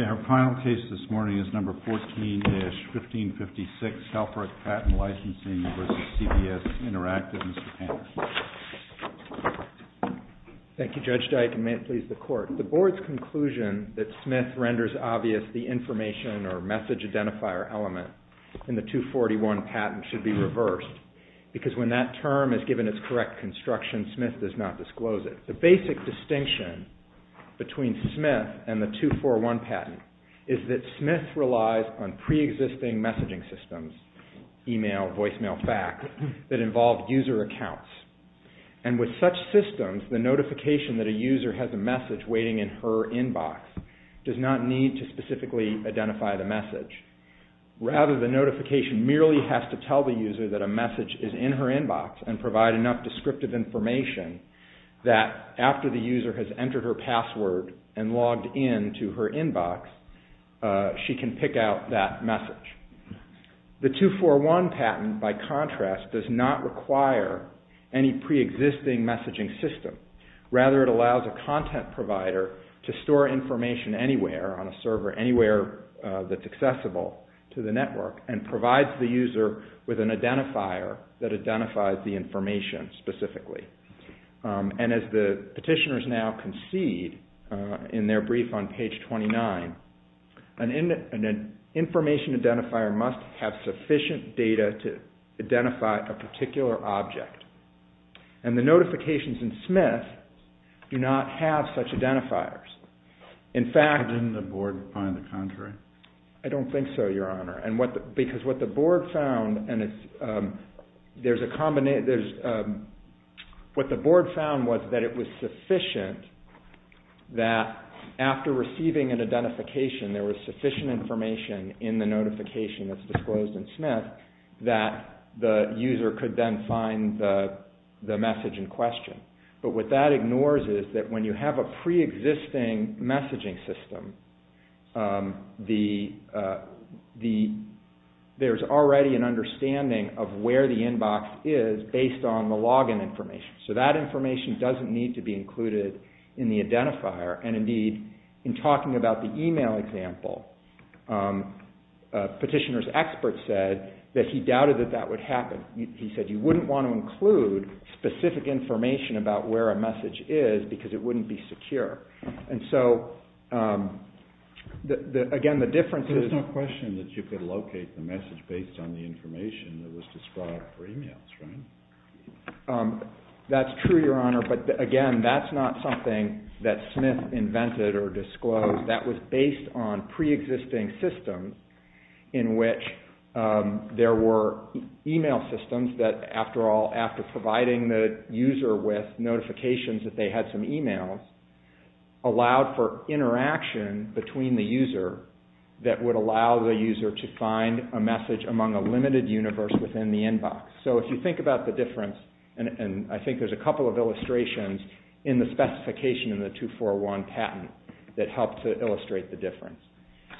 Our final case this morning is No. 14-1556, Helferich Patent Licensing v. CBS Interactive. Mr. Panner. Thank you, Judge Dyke, and may it please the Court. The Board's conclusion that Smith renders obvious the information or message identifier element in the 241 patent should be reversed because when that term is given its correct construction, Smith does not disclose it. The basic distinction between Smith and the 241 patent is that Smith relies on pre-existing messaging systems, email, voicemail, fax, that involve user accounts. And with such systems, the notification that a user has a message waiting in her inbox does not need to specifically identify the message. Rather the notification merely has to tell the user that a message is in her inbox and provide enough descriptive information that after the user has entered her password and logged in to her inbox, she can pick out that message. The 241 patent, by contrast, does not require any pre-existing messaging system. Rather it allows a content provider to store information anywhere on a server, anywhere that's accessible to the network, and provides the user with an identifier that identifies the information specifically. And as the petitioners now concede in their brief on page 29, an information identifier must have sufficient data to identify a particular object. And the notifications in Smith do not have such identifiers. In fact... Didn't the board find the contrary? I don't think so, Your Honor, because what the board found, what the board found was that it was sufficient that after receiving an identification, there was sufficient information in the notification that's disclosed in Smith that the user could then find the message in question. But what that ignores is that when you have a pre-existing messaging system, there's already an understanding of where the inbox is based on the login information. So that information doesn't need to be included in the identifier. And indeed, in talking about the email example, a petitioner's expert said that he doubted that that would happen. He said you wouldn't want to include specific information about where a message is because it wouldn't be secure. And so, again, the difference is... There's no question that you could locate the message based on the information that was described for emails, right? That's true, Your Honor, but again, that's not something that Smith invented or disclosed. That was based on pre-existing systems in which there were email systems that, after all, after providing the user with notifications that they had some emails, allowed for interaction between the user that would allow the user to find a message among a limited universe within the inbox. So if you think about the difference, and I think there's a couple of illustrations in the specification in the 241 patent that help to illustrate the difference.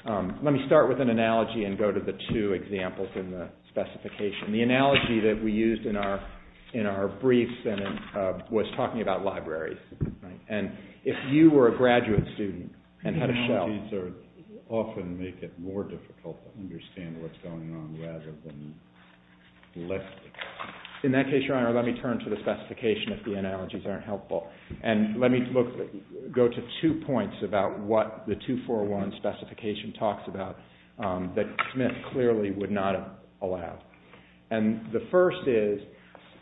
Let me start with an analogy and go to the two examples in the specification. The analogy that we used in our briefs was talking about libraries. And if you were a graduate student and had a shell... In that case, Your Honor, let me turn to the specification if the analogies aren't helpful. And let me go to two points about what the 241 specification talks about that Smith clearly would not allow. And the first is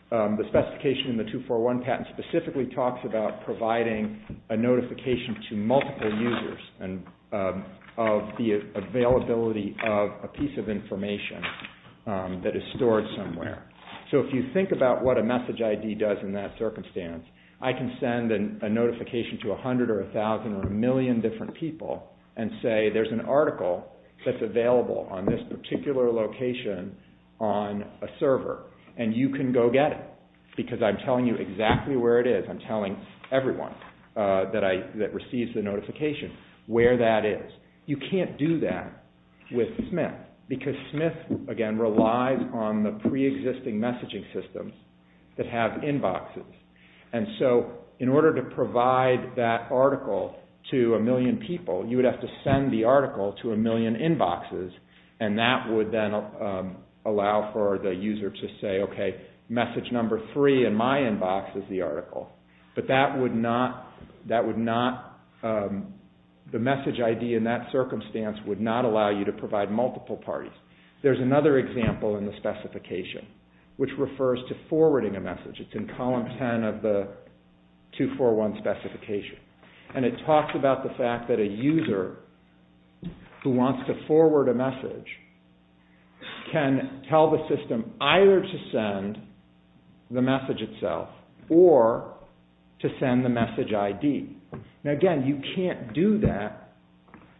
the specification in the 241 patent specifically talks about providing a notification to multiple users of the availability of a piece of information that is stored somewhere. So if you think about what a message ID does in that circumstance, I can send a notification to a hundred or a thousand or a million different people and say, there's an article that's available on this particular location on a server, and you can go get it. Because I'm telling you exactly where it is. I'm telling everyone that receives the notification where that is. You can't do that with Smith, because Smith, again, relies on the pre-existing messaging systems that have inboxes. And so in order to provide that article to a million people, you would have to send the article to a million inboxes, and that would then allow for the user to say, okay, message number three in my inbox is the article. But that would not, the message ID in that circumstance would not allow you to provide multiple parties. There's another example in the specification, which refers to forwarding a message. It's in column 10 of the 241 specification. And it talks about the fact that a user who wants to forward a message can tell the system either to send the message itself or to send the message ID. Now, again, you can't do that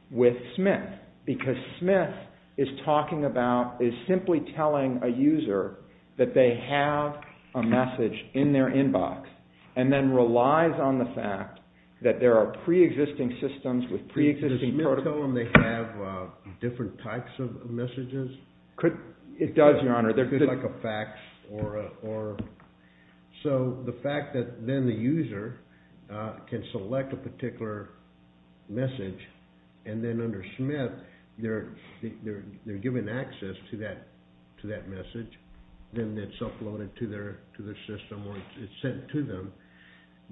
with Smith, because Smith is talking about, is simply telling a user that they have a message in their inbox, and then relies on the fact that there are pre-existing systems with pre-existing protocols. Does Smith tell them they have different types of messages? It does, Your Honor. Could it be like a fax, or... So the fact that then the user can select a particular message, and then under Smith, they're given access to that message, then it's uploaded to their system, or it's sent to them.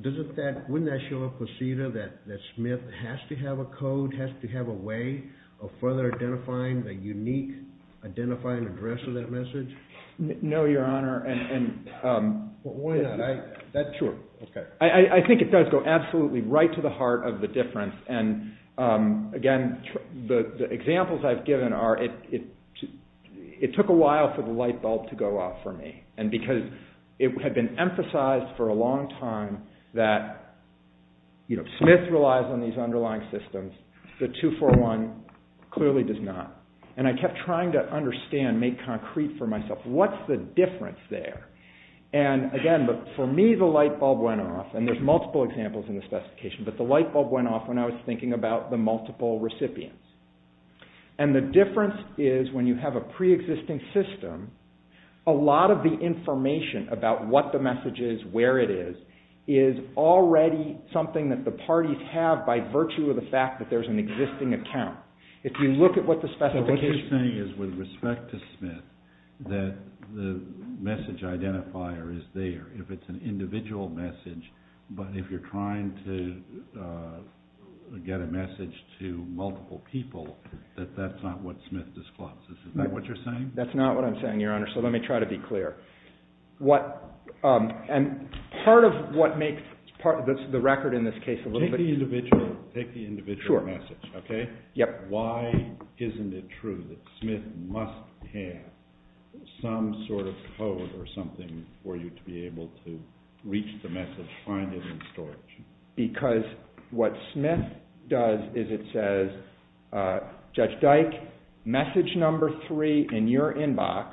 Doesn't that, wouldn't that show up with CETA, that Smith has to have a code, has to have a way of further identifying the unique identifying address of that message? No, Your Honor. Why not? Sure. Okay. I think it does go absolutely right to the heart of the difference, and again, the examples I've given are, it took a while for the light bulb to go off for me. And because it had been emphasized for a long time that Smith relies on these underlying systems, the 241 clearly does not. And I kept trying to understand, make concrete for myself, what's the difference there? And again, for me, the light bulb went off, and there's multiple examples in the specification, but the light bulb went off when I was thinking about the multiple recipients. And the difference is, when you have a pre-existing system, a lot of the information about what the message is, where it is, is already something that the parties have by virtue of the fact that there's an existing account. If you look at what the specification... So, what you're saying is, with respect to Smith, that the message identifier is there, if it's an individual message, but if you're trying to get a message to multiple people, that that's not what Smith discloses, is that what you're saying? That's not what I'm saying, Your Honor, so let me try to be clear. And part of what makes the record in this case a little bit... Take the individual message, okay? Why isn't it true that Smith must have some sort of code or something for you to be able to reach the message, find it in storage? Because what Smith does is it says, Judge Dike, message number three in your inbox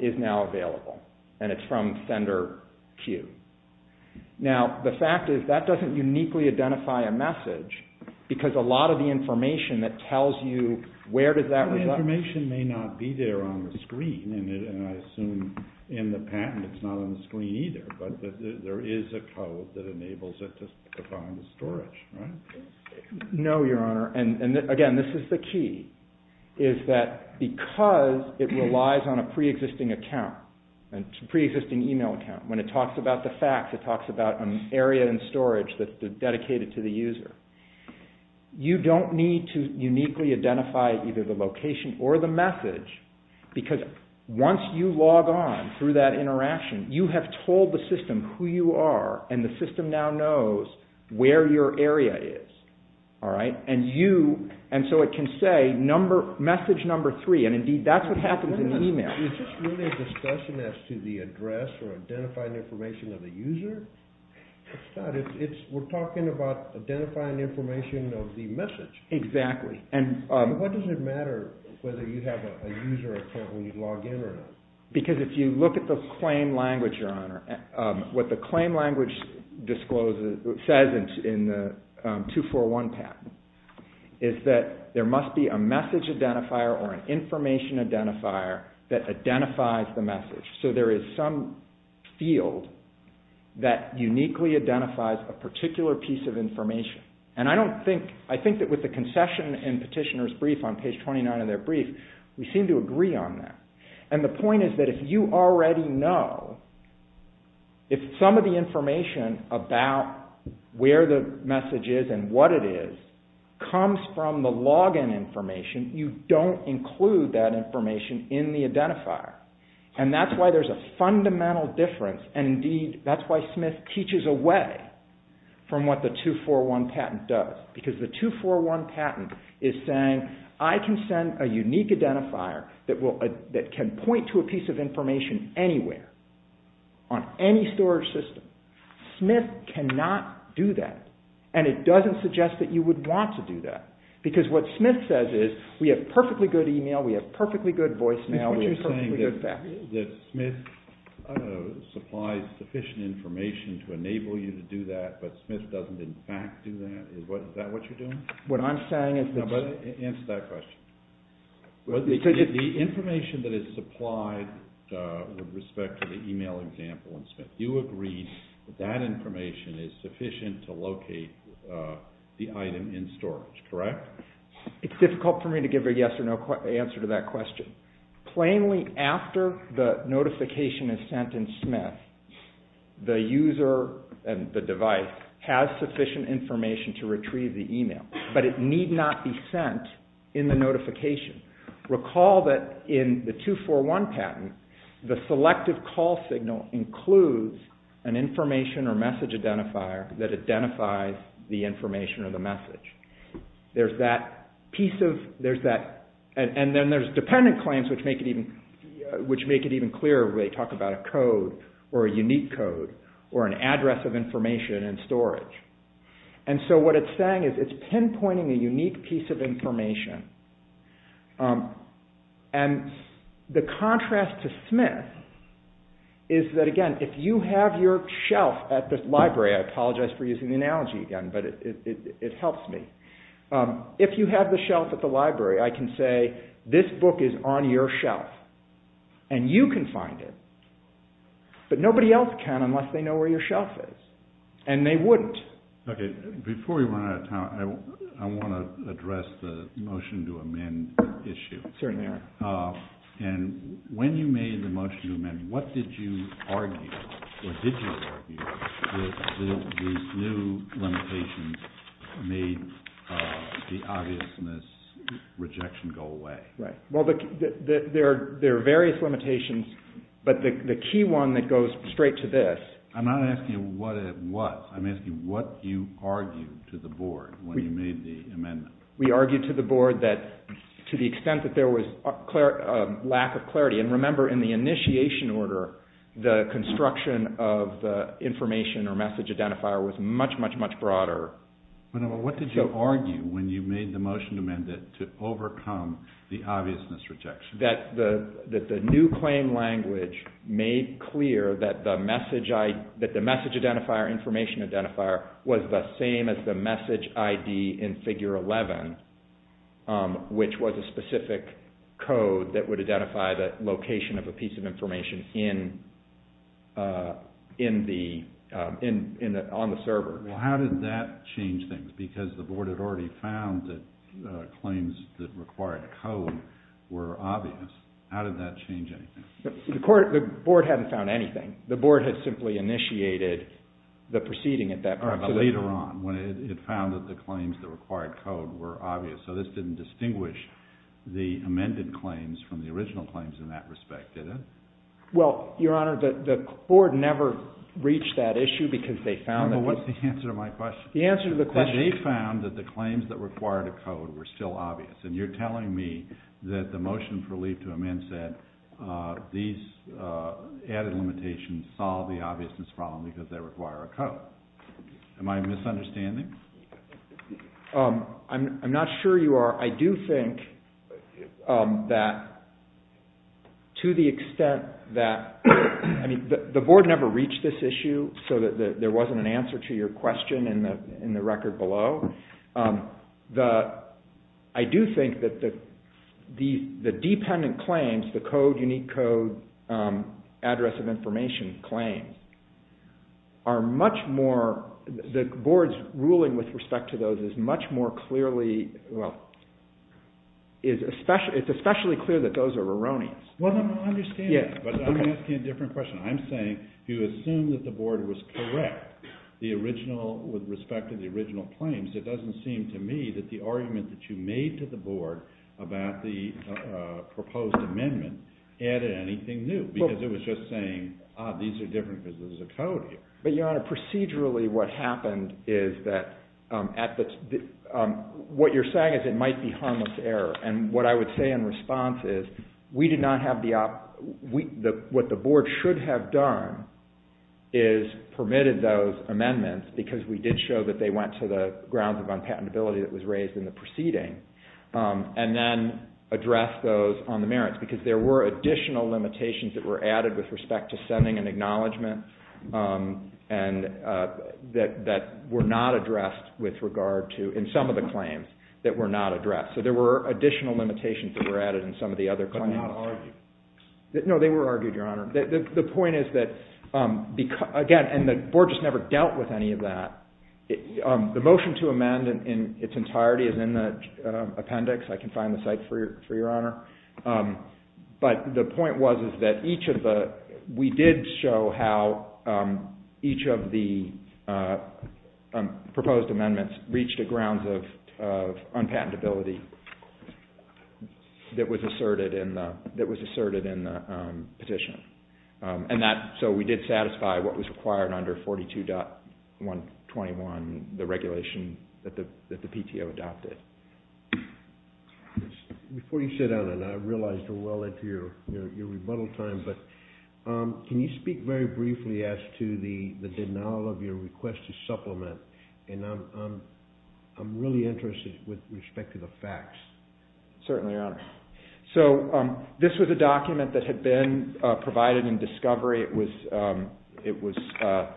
is now available, and it's from sender Q. Now, the fact is, that doesn't uniquely identify a message, because a lot of the information that tells you where does that result... The information may not be there on the screen, and I assume in the patent it's not on the screen either, but there is a code that enables it to find storage, right? No, Your Honor, and again, this is the key, is that because it relies on a pre-existing account, a pre-existing email account, when it talks about the facts, it talks about an area in storage that's dedicated to the user. You don't need to uniquely identify either the location or the message, because once you log on through that interaction, you have told the system who you are, and the system now knows where your area is, all right? And so it can say message number three, and indeed that's what happens in the email. Is this really a discussion as to the address or identifying information of the user? It's not. We're talking about identifying information of the message. Exactly. What does it matter whether you have a user account when you log in or not? Because if you look at the claim language, Your Honor, what the claim language says in the 241 patent is that there must be a message identifier or an information identifier that identifies the message. So there is some field that uniquely identifies a particular piece of information. And I think that with the concession and petitioner's brief on page 29 of their brief, we seem to agree on that. And the point is that if you already know, if some of the information about where the message is and what it is comes from the login information, you don't include that information in the identifier. And that's why there's a fundamental difference, and indeed that's why Smith teaches away from what the 241 patent does. Because the 241 patent is saying I can send a unique identifier that can point to a piece of information anywhere on any storage system. Smith cannot do that, and it doesn't suggest that you would want to do that. Because what Smith says is we have perfectly good email, we have perfectly good voicemail, we have perfectly good fax. So you're saying that Smith supplies sufficient information to enable you to do that, but Smith doesn't in fact do that? Is that what you're doing? What I'm saying is that... Answer that question. The information that is supplied with respect to the email example in Smith, you agree that that information is sufficient to locate the item in storage, correct? It's difficult for me to give a yes or no answer to that question. Plainly after the notification is sent in Smith, the user and the device has sufficient information to retrieve the email, but it need not be sent in the notification. Recall that in the 241 patent, the selective call signal includes an information or message identifier There's that piece of... And then there's dependent claims which make it even clearer when they talk about a code or a unique code or an address of information in storage. And so what it's saying is it's pinpointing a unique piece of information. And the contrast to Smith is that again, if you have your shelf at the library, I apologize for using the analogy again, but it helps me. If you have the shelf at the library, I can say this book is on your shelf. And you can find it. But nobody else can unless they know where your shelf is. And they wouldn't. Before we run out of time, I want to address the motion to amend issue. Certainly. And when you made the motion to amend, what did you argue or did you argue that these new limitations made the obviousness rejection go away? Well, there are various limitations, but the key one that goes straight to this... I'm not asking you what it was. I'm asking what you argued to the board when you made the amendment. We argued to the board that to the extent that there was a lack of clarity, and remember in the initiation order, the construction of the information or message identifier was much, much, much broader. What did you argue when you made the motion to amend it to overcome the obviousness rejection? That the new claim language made clear that the message identifier, information identifier was the same as the message ID in figure 11, which was a specific code that would identify the location of a piece of information on the server. Well, how did that change things? Because the board had already found that claims that required a code were obvious. How did that change anything? The board hadn't found anything. The board had simply initiated the proceeding at that point. All right, but later on when it found that the claims that required code were obvious, so this didn't distinguish the amended claims from the original claims in that respect, did it? Well, Your Honor, the board never reached that issue because they found that... Well, what's the answer to my question? The answer to the question... They found that the claims that required a code were still obvious, and you're telling me that the motion for leave to amend said these added limitations solve the obviousness problem because they require a code. Am I misunderstanding? I'm not sure you are. I do think that to the extent that... I mean, the board never reached this issue, so there wasn't an answer to your question in the record below. I do think that the dependent claims, the code, unique code, address of information claims, are much more... The board's ruling with respect to those is much more clearly... Well, it's especially clear that those are erroneous. Well, then I understand that, but I'm asking a different question. I'm saying if you assume that the board was correct with respect to the original claims, it doesn't seem to me that the argument that you made to the board about the proposed amendment added anything new because it was just saying, ah, these are different because there's a code here. But, Your Honor, procedurally what happened is that at the... What you're saying is it might be harmless error, and what I would say in response is we did not have the... What the board should have done is permitted those amendments because we did show that they went to the grounds of unpatentability that was raised in the proceeding and then addressed those on the merits because there were additional limitations that were added with respect to sending an acknowledgement and that were not addressed with regard to, in some of the claims, that were not addressed. So there were additional limitations that were added in some of the other claims. But not argued. No, they were argued, Your Honor. The point is that, again, and the board just never dealt with any of that. The motion to amend in its entirety is in the appendix. I can find the site for you, Your Honor. But the point was that each of the... We did show how each of the proposed amendments reached the grounds of unpatentability that was asserted in the petition. So we did satisfy what was required under 42.121, the regulation that the PTO adopted. Before you sit down, and I realize we're well into your rebuttal time, but can you speak very briefly as to the denial of your request to supplement? I'm really interested with respect to the facts. Certainly, Your Honor. So this was a document that had been provided in discovery. It was...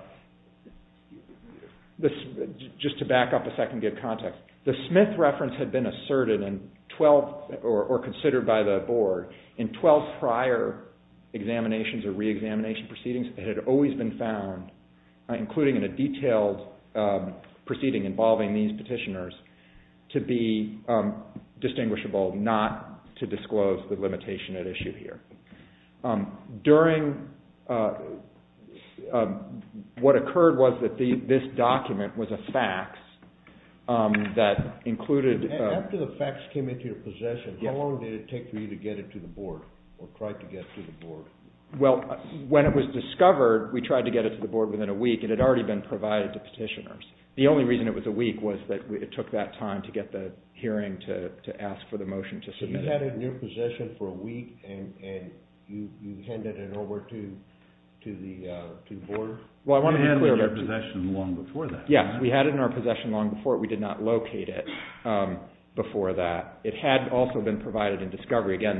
Just to back up a second and give context. The Smith reference had been asserted in 12, or considered by the board, in 12 prior examinations or re-examination proceedings that had always been found, including in a detailed proceeding involving these petitioners, to be distinguishable, not to disclose the limitation at issue here. During... What occurred was that this document was a fax that included... After the fax came into your possession, how long did it take for you to get it to the board, or try to get it to the board? Well, when it was discovered, we tried to get it to the board within a week. It had already been provided to petitioners. The only reason it was a week was that it took that time to get the hearing to ask for the motion to submit it. So you had it in your possession for a week, and you handed it over to the board? Well, I want to be clear about... You had it in your possession long before that. Yes, we had it in our possession long before. We did not locate it before that. It had also been provided in discovery. Again,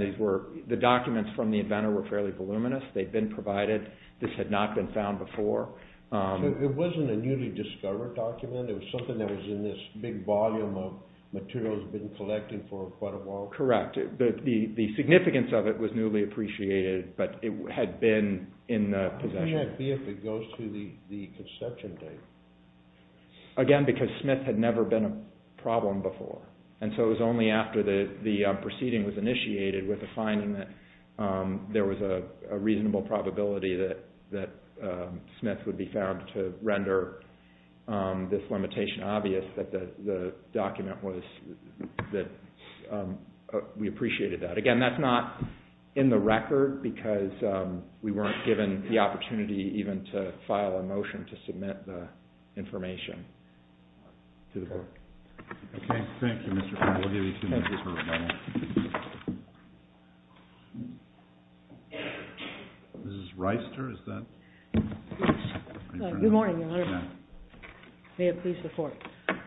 the documents from the inventor were fairly voluminous. They'd been provided. This had not been found before. So it wasn't a newly discovered document. It was something that was in this big volume of materials been collected for quite a while? Correct. The significance of it was newly appreciated, but it had been in possession. How would that be if it goes through the conception date? Again, because Smith had never been a problem before, and so it was only after the proceeding was initiated with the finding that there was a reasonable probability that Smith would be found to render this limitation obvious that the document was that we appreciated that. Again, that's not in the record because we weren't given the opportunity even to file a motion to submit the information to the board. Okay, thank you, Mr. Kline. We'll give you two minutes for a moment. Mrs. Reister, is that? Good morning, Your Honor. May it please the Court.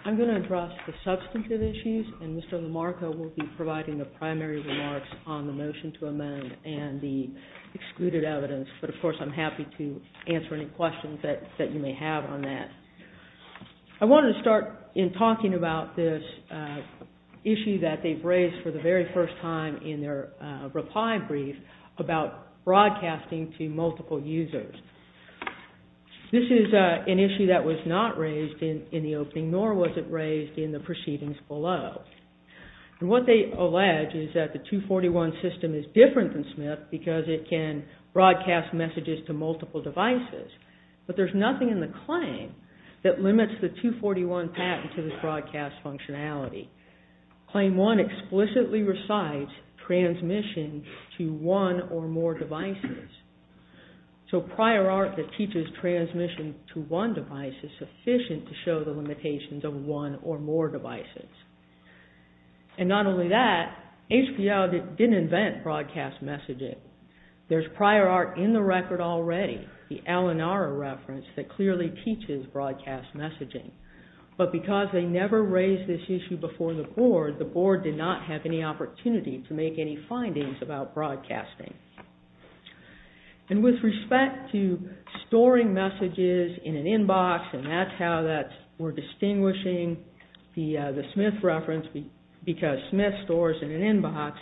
I'm going to address the substantive issues, and Mr. Lamarco will be providing the primary remarks on the motion to amend and the excluded evidence, but of course I'm happy to answer any questions that you may have on that. I wanted to start in talking about this issue that they've raised for the very first time in their reply brief about broadcasting to multiple users. This is an issue that was not raised in the opening, nor was it raised in the proceedings below. What they allege is that the 241 system is different than Smith because it can broadcast messages to multiple devices, but there's nothing in the claim that limits the 241 patent to this broadcast functionality. Claim 1 explicitly recites transmission to one or more devices, so prior art that teaches transmission to one device is sufficient to show the limitations of one or more devices. And not only that, HPL didn't invent broadcast messaging. There's prior art in the record already, the Alanara reference, that clearly teaches broadcast messaging. But because they never raised this issue before the board, the board did not have any opportunity to make any findings about broadcasting. And with respect to storing messages in an inbox, and that's how we're distinguishing the Smith reference, because Smith stores in an inbox,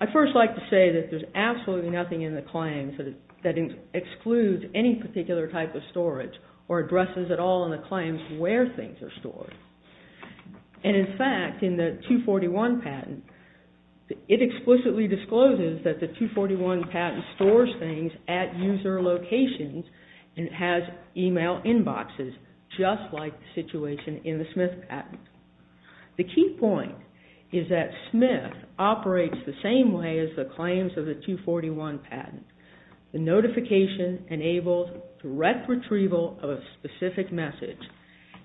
I'd first like to say that there's absolutely nothing in the claim that excludes any particular type of storage or addresses at all in the claims where things are stored. And in fact, in the 241 patent, it explicitly discloses that the 241 patent stores things at user locations and has email inboxes just like the situation in the Smith patent. The key point is that Smith operates the same way as the claims of the 241 patent. The notification enables direct retrieval of a specific message.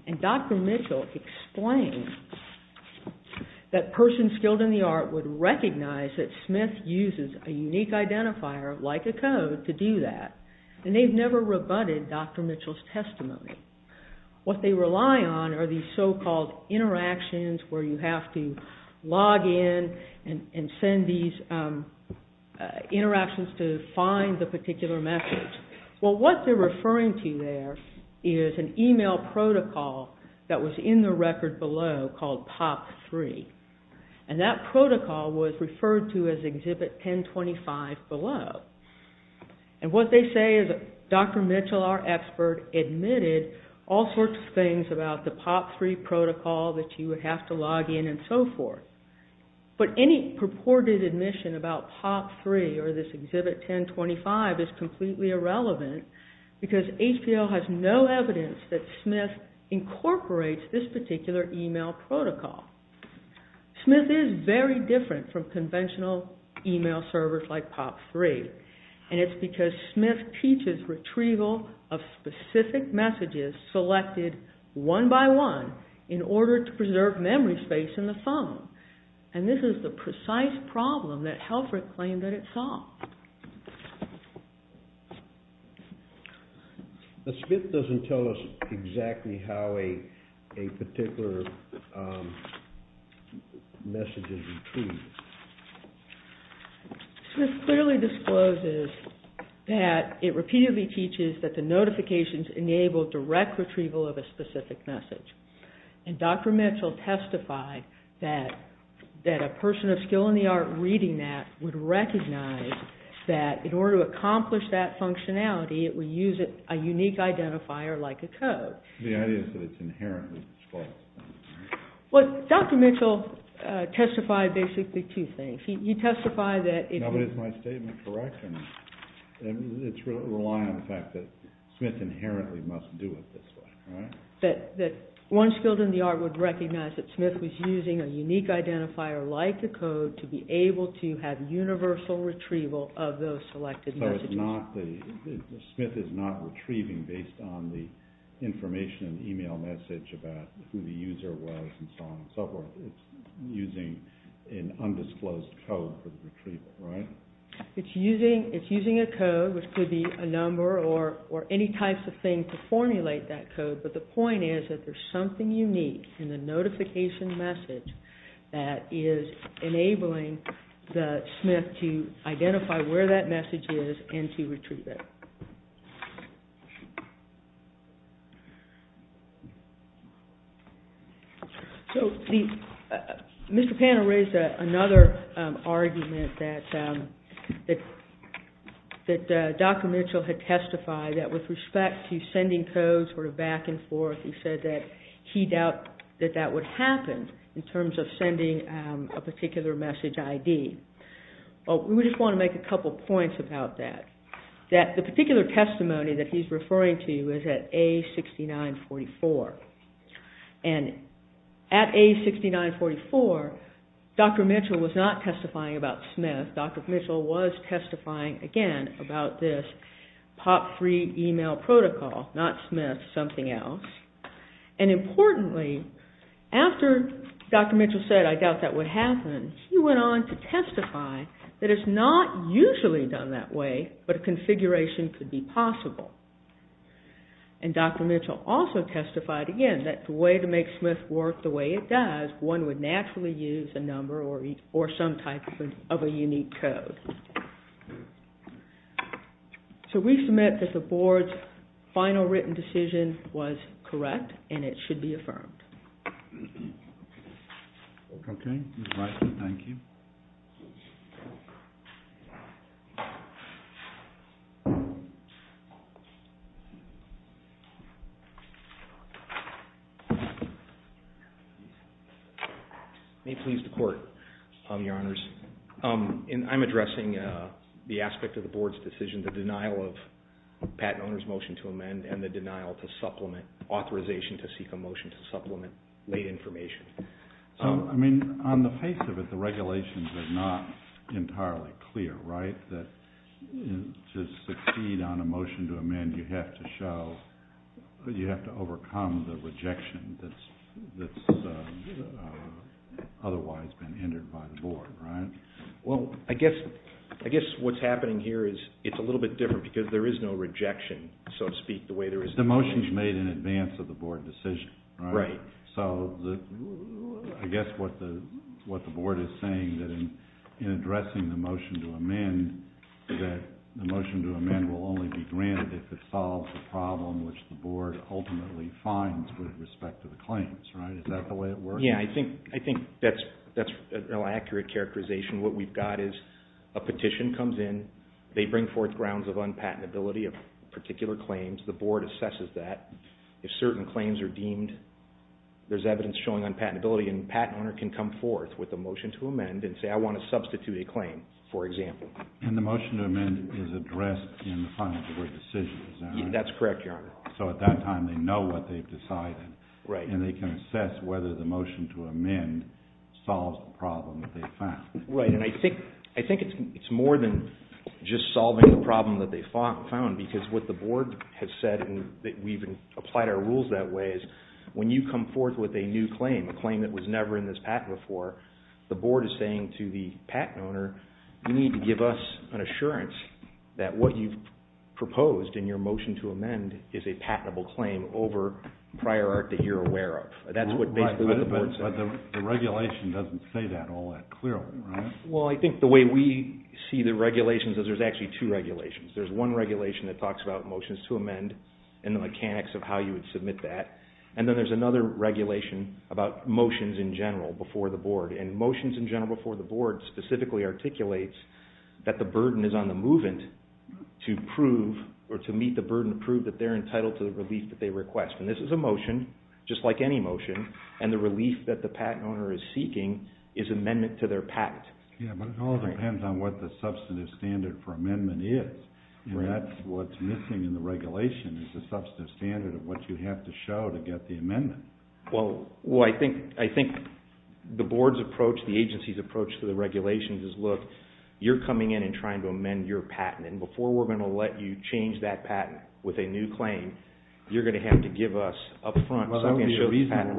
And Dr. Mitchell explains that persons skilled in the art would recognize that Smith uses a unique identifier, like a code, to do that. And they've never rebutted Dr. Mitchell's testimony. What they rely on are these so-called interactions where you have to log in and send these interactions to find the particular message. Well, what they're referring to there is an email protocol that was in the record below called POP3. And that protocol was referred to as Exhibit 1025 below. And what they say is that Dr. Mitchell, our expert, admitted all sorts of things about the POP3 protocol that you would have to log in and so forth. But any purported admission about POP3 or this Exhibit 1025 is completely irrelevant because HPO has no evidence that Smith incorporates this particular email protocol. Smith is very different from conventional email servers like POP3. And it's because Smith teaches retrieval of specific messages selected one by one in order to preserve memory space in the phone. And this is the precise problem that Helfrich claimed that it solved. Smith doesn't tell us exactly how a particular message is retrieved. Smith clearly discloses that it repeatedly teaches that the notifications enable direct retrieval of a specific message. And Dr. Mitchell testified that a person of skill in the art reading that would recognize that in order to accomplish that functionality it would use a unique identifier like a code. The idea is that it's inherently disclosed. Well, Dr. Mitchell testified basically two things. He testified that it is... Smith inherently must do it this way, right? That one skilled in the art would recognize that Smith was using a unique identifier like the code to be able to have universal retrieval of those selected messages. So it's not the... Smith is not retrieving based on the information in the email message about who the user was and so on and so forth. It's using an undisclosed code for the retrieval, right? It's using a code, which could be a number or any types of thing to formulate that code, but the point is that there's something unique in the notification message that is enabling Smith to identify where that message is and to retrieve it. So Mr. Panner raised another argument that Dr. Mitchell had testified that with respect to sending codes back and forth, he said that he doubted that that would happen in terms of sending a particular message ID. We just want to make a couple of points about that. The particular testimony that he's referring to is at A6944. And at A6944, Dr. Mitchell was not testifying about Smith. Dr. Mitchell was testifying again about this POP3 email protocol, not Smith, something else. And importantly, after Dr. Mitchell said, I doubt that would happen, he went on to testify that it's not usually done that way, but a configuration could be possible. And Dr. Mitchell also testified again that the way to make Smith work the way it does, one would naturally use a number or some type of a unique code. So we submit that the Board's final written decision was correct and it should be affirmed. Okay. Thank you. May it please the Court, Your Honors. I'm addressing the aspect of the Board's decision, the denial of patent owner's motion to amend and the denial to supplement authorization to seek a motion to supplement late information. So, I mean, on the face of it, the regulations are not entirely clear, right? To succeed on a motion to amend, you have to show, you have to overcome the rejection that's otherwise been entered by the Board, right? Well, I guess what's happening here is it's a little bit different because there is no rejection, so to speak, the way there is now. But the motion is made in advance of the Board decision, right? Right. So I guess what the Board is saying is that in addressing the motion to amend, that the motion to amend will only be granted if it solves the problem which the Board ultimately finds with respect to the claims, right? Is that the way it works? Yeah, I think that's an accurate characterization. What we've got is a petition comes in. They bring forth grounds of unpatentability of particular claims. The Board assesses that. If certain claims are deemed, there's evidence showing unpatentability, and the patent owner can come forth with a motion to amend and say, I want to substitute a claim, for example. And the motion to amend is addressed in the final decision, is that right? That's correct, Your Honor. So at that time, they know what they've decided. Right. And they can assess whether the motion to amend solves the problem that they found. Right. And I think it's more than just solving the problem that they found because what the Board has said, and we've applied our rules that way, is when you come forth with a new claim, a claim that was never in this patent before, the Board is saying to the patent owner, you need to give us an assurance that what you've proposed in your motion to amend is a patentable claim over prior art that you're aware of. That's basically what the Board said. But the regulation doesn't say that all that clearly, right? Well, I think the way we see the regulations is there's actually two regulations. There's one regulation that talks about motions to amend and the mechanics of how you would submit that. And then there's another regulation about motions in general before the Board. And motions in general before the Board specifically articulates that the burden is on the movant to prove or to meet the burden to prove that they're entitled to the relief that they request. And this is a motion, just like any motion, and the relief that the patent owner is seeking is amendment to their patent. Yeah, but it all depends on what the substantive standard for amendment is. And that's what's missing in the regulation is the substantive standard of what you have to show to get the amendment. Well, I think the Board's approach, the agency's approach to the regulations is, look, you're coming in and trying to amend your patent, and before we're going to let you change that patent with a new claim, you're going to have to give us up front something that shows the patent. Well, that would be a reasonable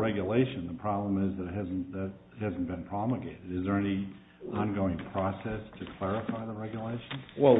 regulation. The problem is that that hasn't been promulgated. Is there any ongoing process to clarify the regulation? Well,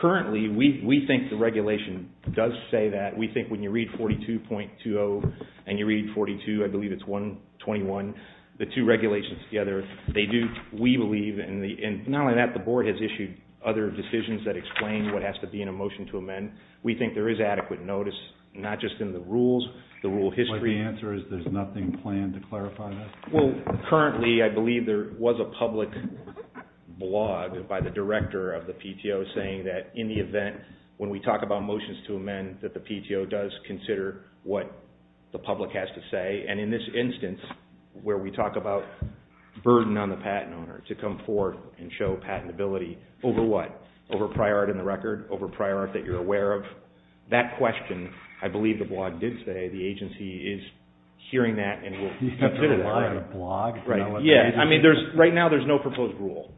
currently we think the regulation does say that. We think when you read 42.20 and you read 42, I believe it's 121, the two regulations together, they do, we believe, and not only that, the Board has issued other decisions that explain what has to be in a motion to amend. We think there is adequate notice, not just in the rules, the rule history. But the answer is there's nothing planned to clarify that? Well, currently I believe there was a public blog by the director of the PTO saying that in the event, when we talk about motions to amend, that the PTO does consider what the public has to say, and in this instance where we talk about burden on the patent owner to come forth and show patentability over what? Over prior art in the record? Over prior art that you're aware of? That question, I believe the blog did say, the agency is hearing that and will consider that. Blog? Right, yeah. I mean, right now there's no proposed rule,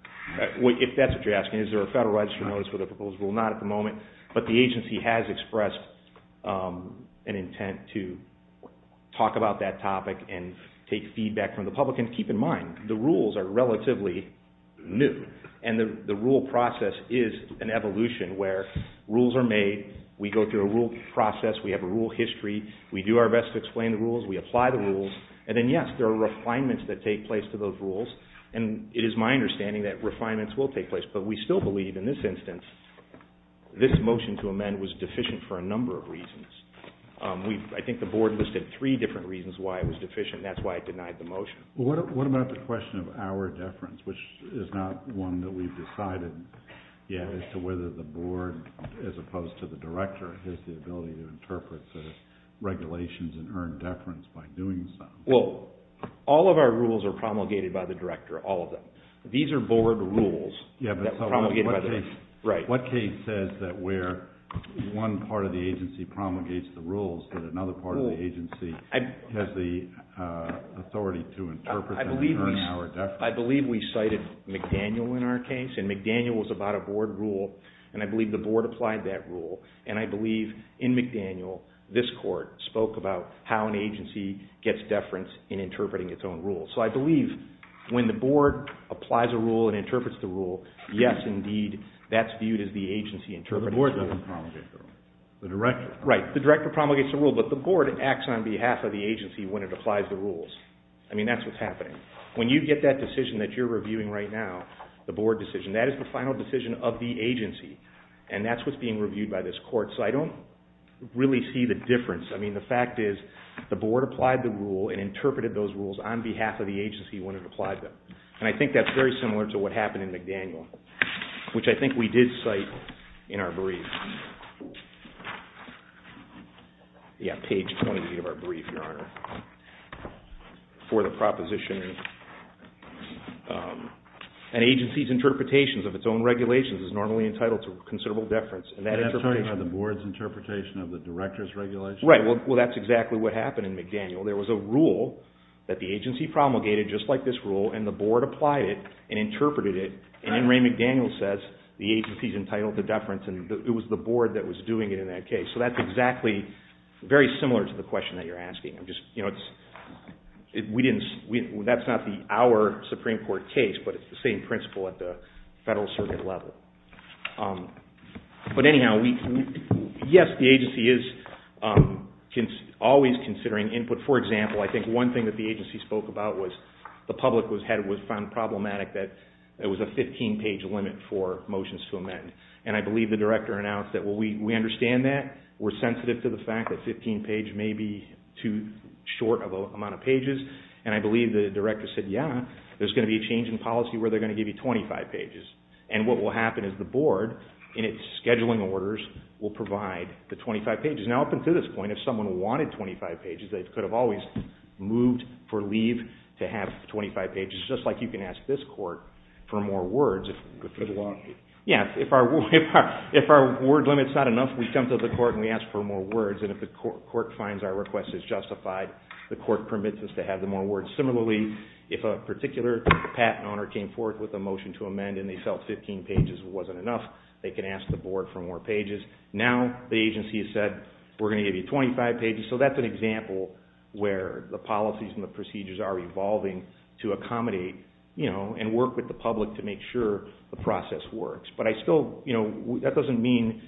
if that's what you're asking. Is there a Federal Register notice with a proposed rule? Not at the moment, but the agency has expressed an intent to talk about that topic and take feedback from the public, and keep in mind, the rules are relatively new, and the rule process is an evolution where rules are made, we go through a rule process, we have a rule history, we do our best to explain the rules, we apply the rules, and then, yes, there are refinements that take place to those rules, and it is my understanding that refinements will take place, but we still believe, in this instance, this motion to amend was deficient for a number of reasons. I think the board listed three different reasons why it was deficient, and that's why it denied the motion. What about the question of our deference, which is not one that we've decided yet, as to whether the board, as opposed to the director, has the ability to interpret the regulations and earn deference by doing so? Well, all of our rules are promulgated by the director, all of them. These are board rules that were promulgated by the director. What case says that where one part of the agency promulgates the rules that another part of the agency has the authority to interpret them and earn our deference? I believe we cited McDaniel in our case, and I believe the board applied that rule, and I believe in McDaniel this court spoke about how an agency gets deference in interpreting its own rules. So I believe when the board applies a rule and interprets the rule, yes, indeed, that's viewed as the agency interpreting the rule. But the board doesn't promulgate the rule. The director promulgates it. Right. The director promulgates the rule, but the board acts on behalf of the agency when it applies the rules. I mean, that's what's happening. When you get that decision that you're reviewing right now, the board decision, that is the final decision of the agency, and that's what's being reviewed by this court. So I don't really see the difference. I mean, the fact is the board applied the rule and interpreted those rules on behalf of the agency when it applied them, and I think that's very similar to what happened in McDaniel, which I think we did cite in our brief. Yeah, page 20 of our brief, Your Honor, for the proposition. An agency's interpretations of its own regulations is normally entitled to considerable deference. And that interpretation... And that's talking about the board's interpretation of the director's regulations? Right. Well, that's exactly what happened in McDaniel. There was a rule that the agency promulgated, just like this rule, and the board applied it and interpreted it, and then Ray McDaniel says the agency's entitled to deference, and it was the board that was doing it in that case. So that's exactly very similar to the question that you're asking. I'm just... you know, it's... We didn't... that's not our Supreme Court case, but it's the same principle at the Federal Circuit level. But anyhow, we... Yes, the agency is always considering input. For example, I think one thing that the agency spoke about was the public was found problematic that there was a 15-page limit for motions to amend. And I believe the director announced that, well, we understand that. We're sensitive to the fact that 15 pages may be too short of an amount of pages. And I believe the director said, yeah, there's going to be a change in policy where they're going to give you 25 pages. And what will happen is the board, in its scheduling orders, will provide the 25 pages. Now, up until this point, if someone wanted 25 pages, they could have always moved for leave to have 25 pages, just like you can ask this court for more words if... Yeah, if our word limit's not enough, we come to the court and we ask for more words. And if the court finds our request is justified, the court permits us to have the more words. Similarly, if a particular patent owner came forth with a motion to amend and they felt 15 pages wasn't enough, they can ask the board for more pages. Now, the agency has said, we're going to give you 25 pages. So that's an example where the policies and the procedures are evolving to accommodate and work with the public to make sure the process works. But I still... That doesn't mean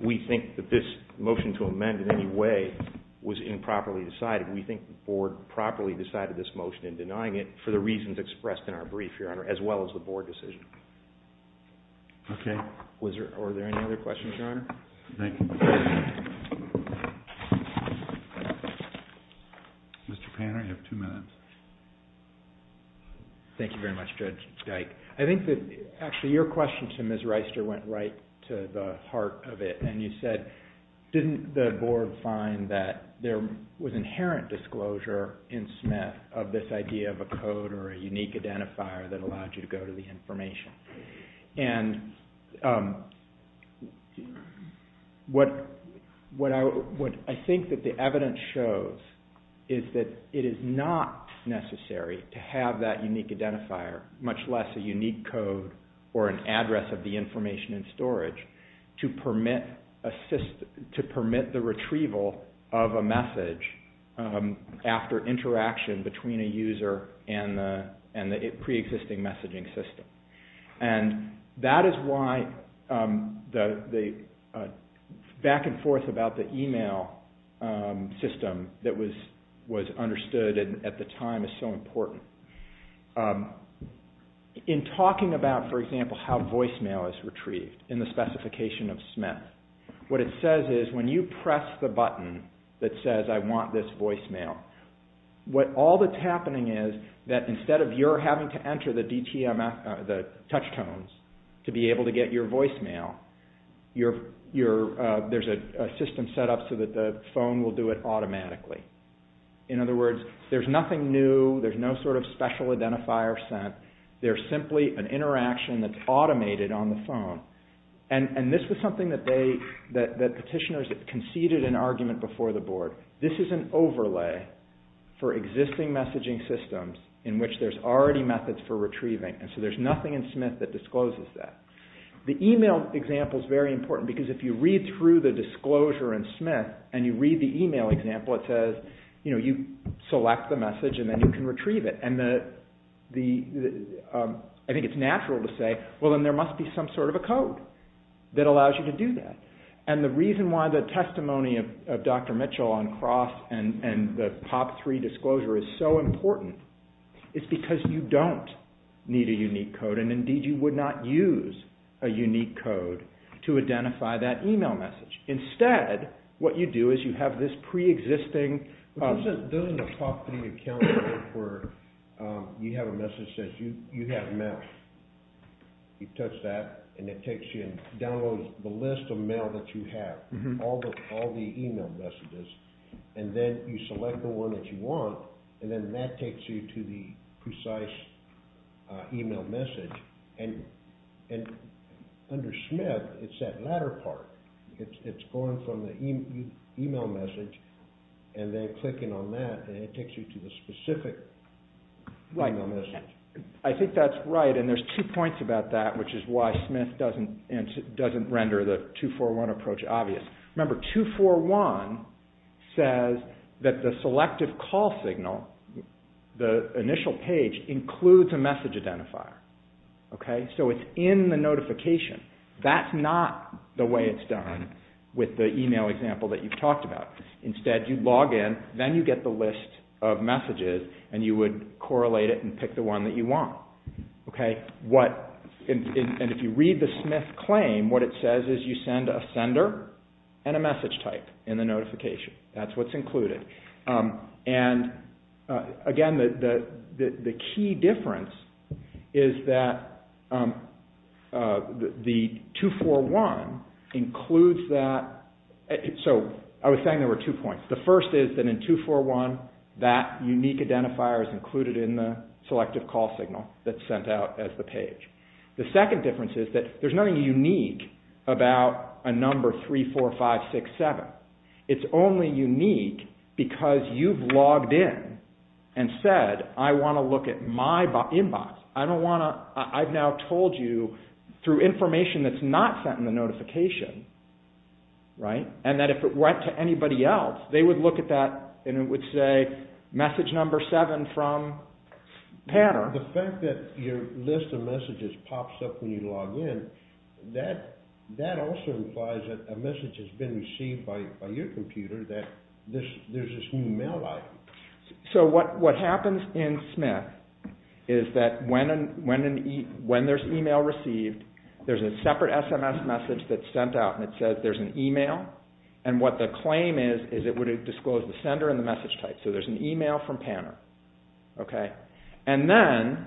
we think that this motion to amend in any way was improperly decided. We think the board properly decided this motion in denying it for the reasons expressed in our brief, Your Honor, as well as the board decision. Okay. Were there any other questions, Your Honor? No. Mr. Panner, you have two minutes. Thank you very much, Judge Dyke. I think that actually your question to Ms. Reister went right to the heart of it. And you said, didn't the board find that there was inherent disclosure in Smith of this idea of a code or a unique identifier that allowed you to go to the information? And what I think that the evidence shows is that it is not necessary to have that unique identifier, much less a unique code or an address of the information in storage, to permit the retrieval of a message after interaction between a user and the preexisting messaging system. And that is why the back and forth about the email system that was understood at the time is so important. In talking about, for example, how voicemail is retrieved in the specification of Smith, what it says is when you press the button that says, I want this voicemail, all that's happening is that instead of your having to enter the touch tones to be able to get your voicemail, there's a system set up so that the phone will do it automatically. In other words, there's nothing new. There's no sort of special identifier sent. There's simply an interaction that's automated on the phone. And this was something that petitioners conceded an argument before the board. This is an overlay for existing messaging systems in which there's already methods for retrieving. And so there's nothing in Smith that discloses that. The email example is very important because if you read through the disclosure in Smith and you read the email example, it says, you know, you select the message and then you can retrieve it. And I think it's natural to say, well then there must be some sort of a code that allows you to do that. And the reason why the testimony of Dr. Mitchell on Cross and the POP3 disclosure is so important is because you don't need a unique code and indeed you would not use a unique code to identify that email message. Instead, what you do is you have this pre-existing… you have a message that says you have mail. You touch that and it takes you and downloads the list of mail that you have, all the email messages. And then you select the one that you want and then that takes you to the precise email message. And under Smith, it's that latter part. It's going from the email message and then clicking on that and it takes you to the specific email message. I think that's right and there's two points about that which is why Smith doesn't render the 241 approach obvious. Remember, 241 says that the selective call signal, the initial page includes a message identifier. So it's in the notification. That's not the way it's done with the email example that you've talked about. Instead, you log in, then you get the list of messages and you would correlate it and pick the one that you want. And if you read the Smith claim, what it says is you send a sender and a message type in the notification. That's what's included. And again, the key difference is that the 241 includes that… So I was saying there were two points. The first is that in 241, that unique identifier is included in the selective call signal that's sent out as the page. The second difference is that there's nothing unique about a number 34567. It's only unique because you've logged in and said, I want to look at my inbox. I don't want to… through information that's not sent in the notification, and that if it went to anybody else, they would look at that and it would say message number 7 from Pattern. The fact that your list of messages pops up when you log in, that also implies that a message has been received by your computer that there's this new mail item. So what happens in Smith is that when there's email received, there's a separate SMS message that's sent out and it says there's an email, and what the claim is is it would disclose the sender and the message type. So there's an email from Pattern. And then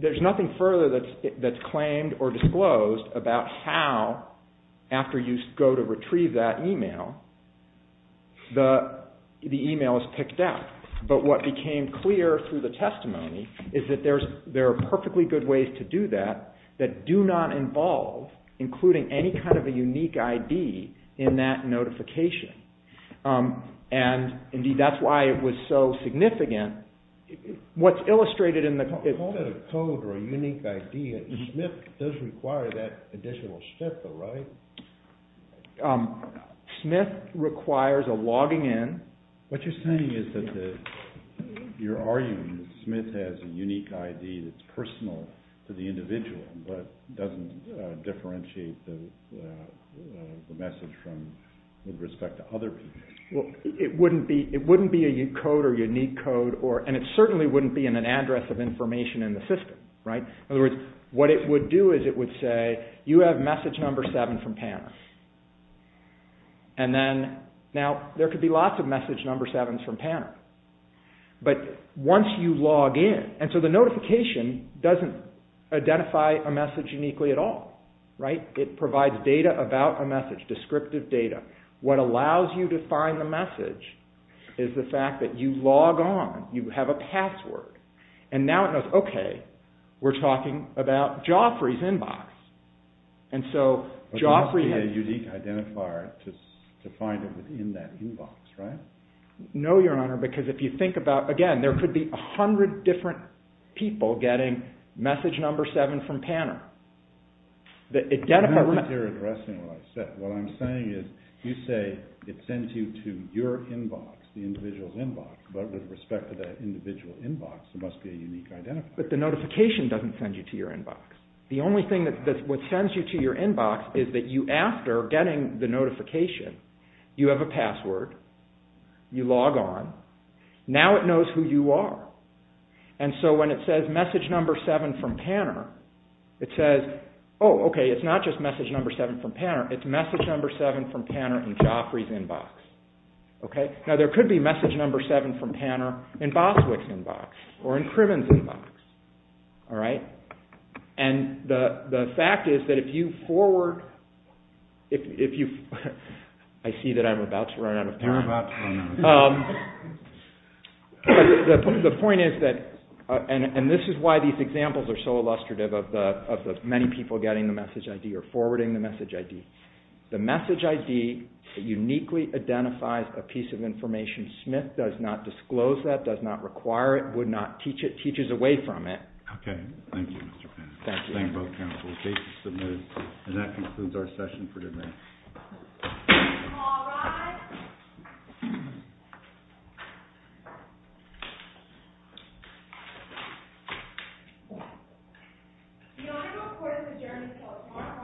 there's nothing further that's claimed or disclosed about how, after you go to retrieve that email, the email is picked up. But what became clear through the testimony is that there are perfectly good ways to do that that do not involve including any kind of a unique ID in that notification. And indeed, that's why it was so significant. What's illustrated in the… Call that a code or a unique ID. Smith does require that additional step, though, right? Smith requires a logging in. What you're saying is that you're arguing that Smith has a unique ID that's personal to the individual but doesn't differentiate the message with respect to other people. Well, it wouldn't be a unique code, and it certainly wouldn't be in an address of information in the system, right? In other words, what it would do is it would say, you have message number 7 from Pattern. And then, now, there could be lots of message number 7s from Pattern. But once you log in… And so the notification doesn't identify a message uniquely at all, right? It provides data about a message, descriptive data. What allows you to find the message is the fact that you log on, you have a password. And now it knows, okay, we're talking about Joffrey's inbox. And so Joffrey has… But there must be a unique identifier to find it within that inbox, right? No, Your Honor, because if you think about, again, there could be a hundred different people getting message number 7 from Pattern. Remember that you're addressing what I said. What I'm saying is you say it sends you to your inbox, the individual's inbox, but with respect to that individual inbox, there must be a unique identifier. But the notification doesn't send you to your inbox. The only thing that sends you to your inbox is that you, after getting the notification, you have a password. You log on. Now it knows who you are. And so when it says message number 7 from Pattern, it says, oh, okay, it's not just message number 7 from Pattern, it's message number 7 from Pattern in Joffrey's inbox. Okay? Now there could be message number 7 from Pattern in Boswick's inbox or in Criven's inbox. All right? And the fact is that if you forward, if you... I see that I'm about to run out of time. You're about to run out of time. The point is that, and this is why these examples are so illustrative of the many people getting the message ID or forwarding the message ID. The message ID uniquely identifies a piece of information. The message ID Smith does not disclose that, does not require it, would not teach it, teaches away from it. Okay. Thank you, Mr. Pennington. Thank you. Thank you both counsel. Case is submitted. And that concludes our session for today. All rise. The honorable court has adjourned until tomorrow morning at 10 a.m.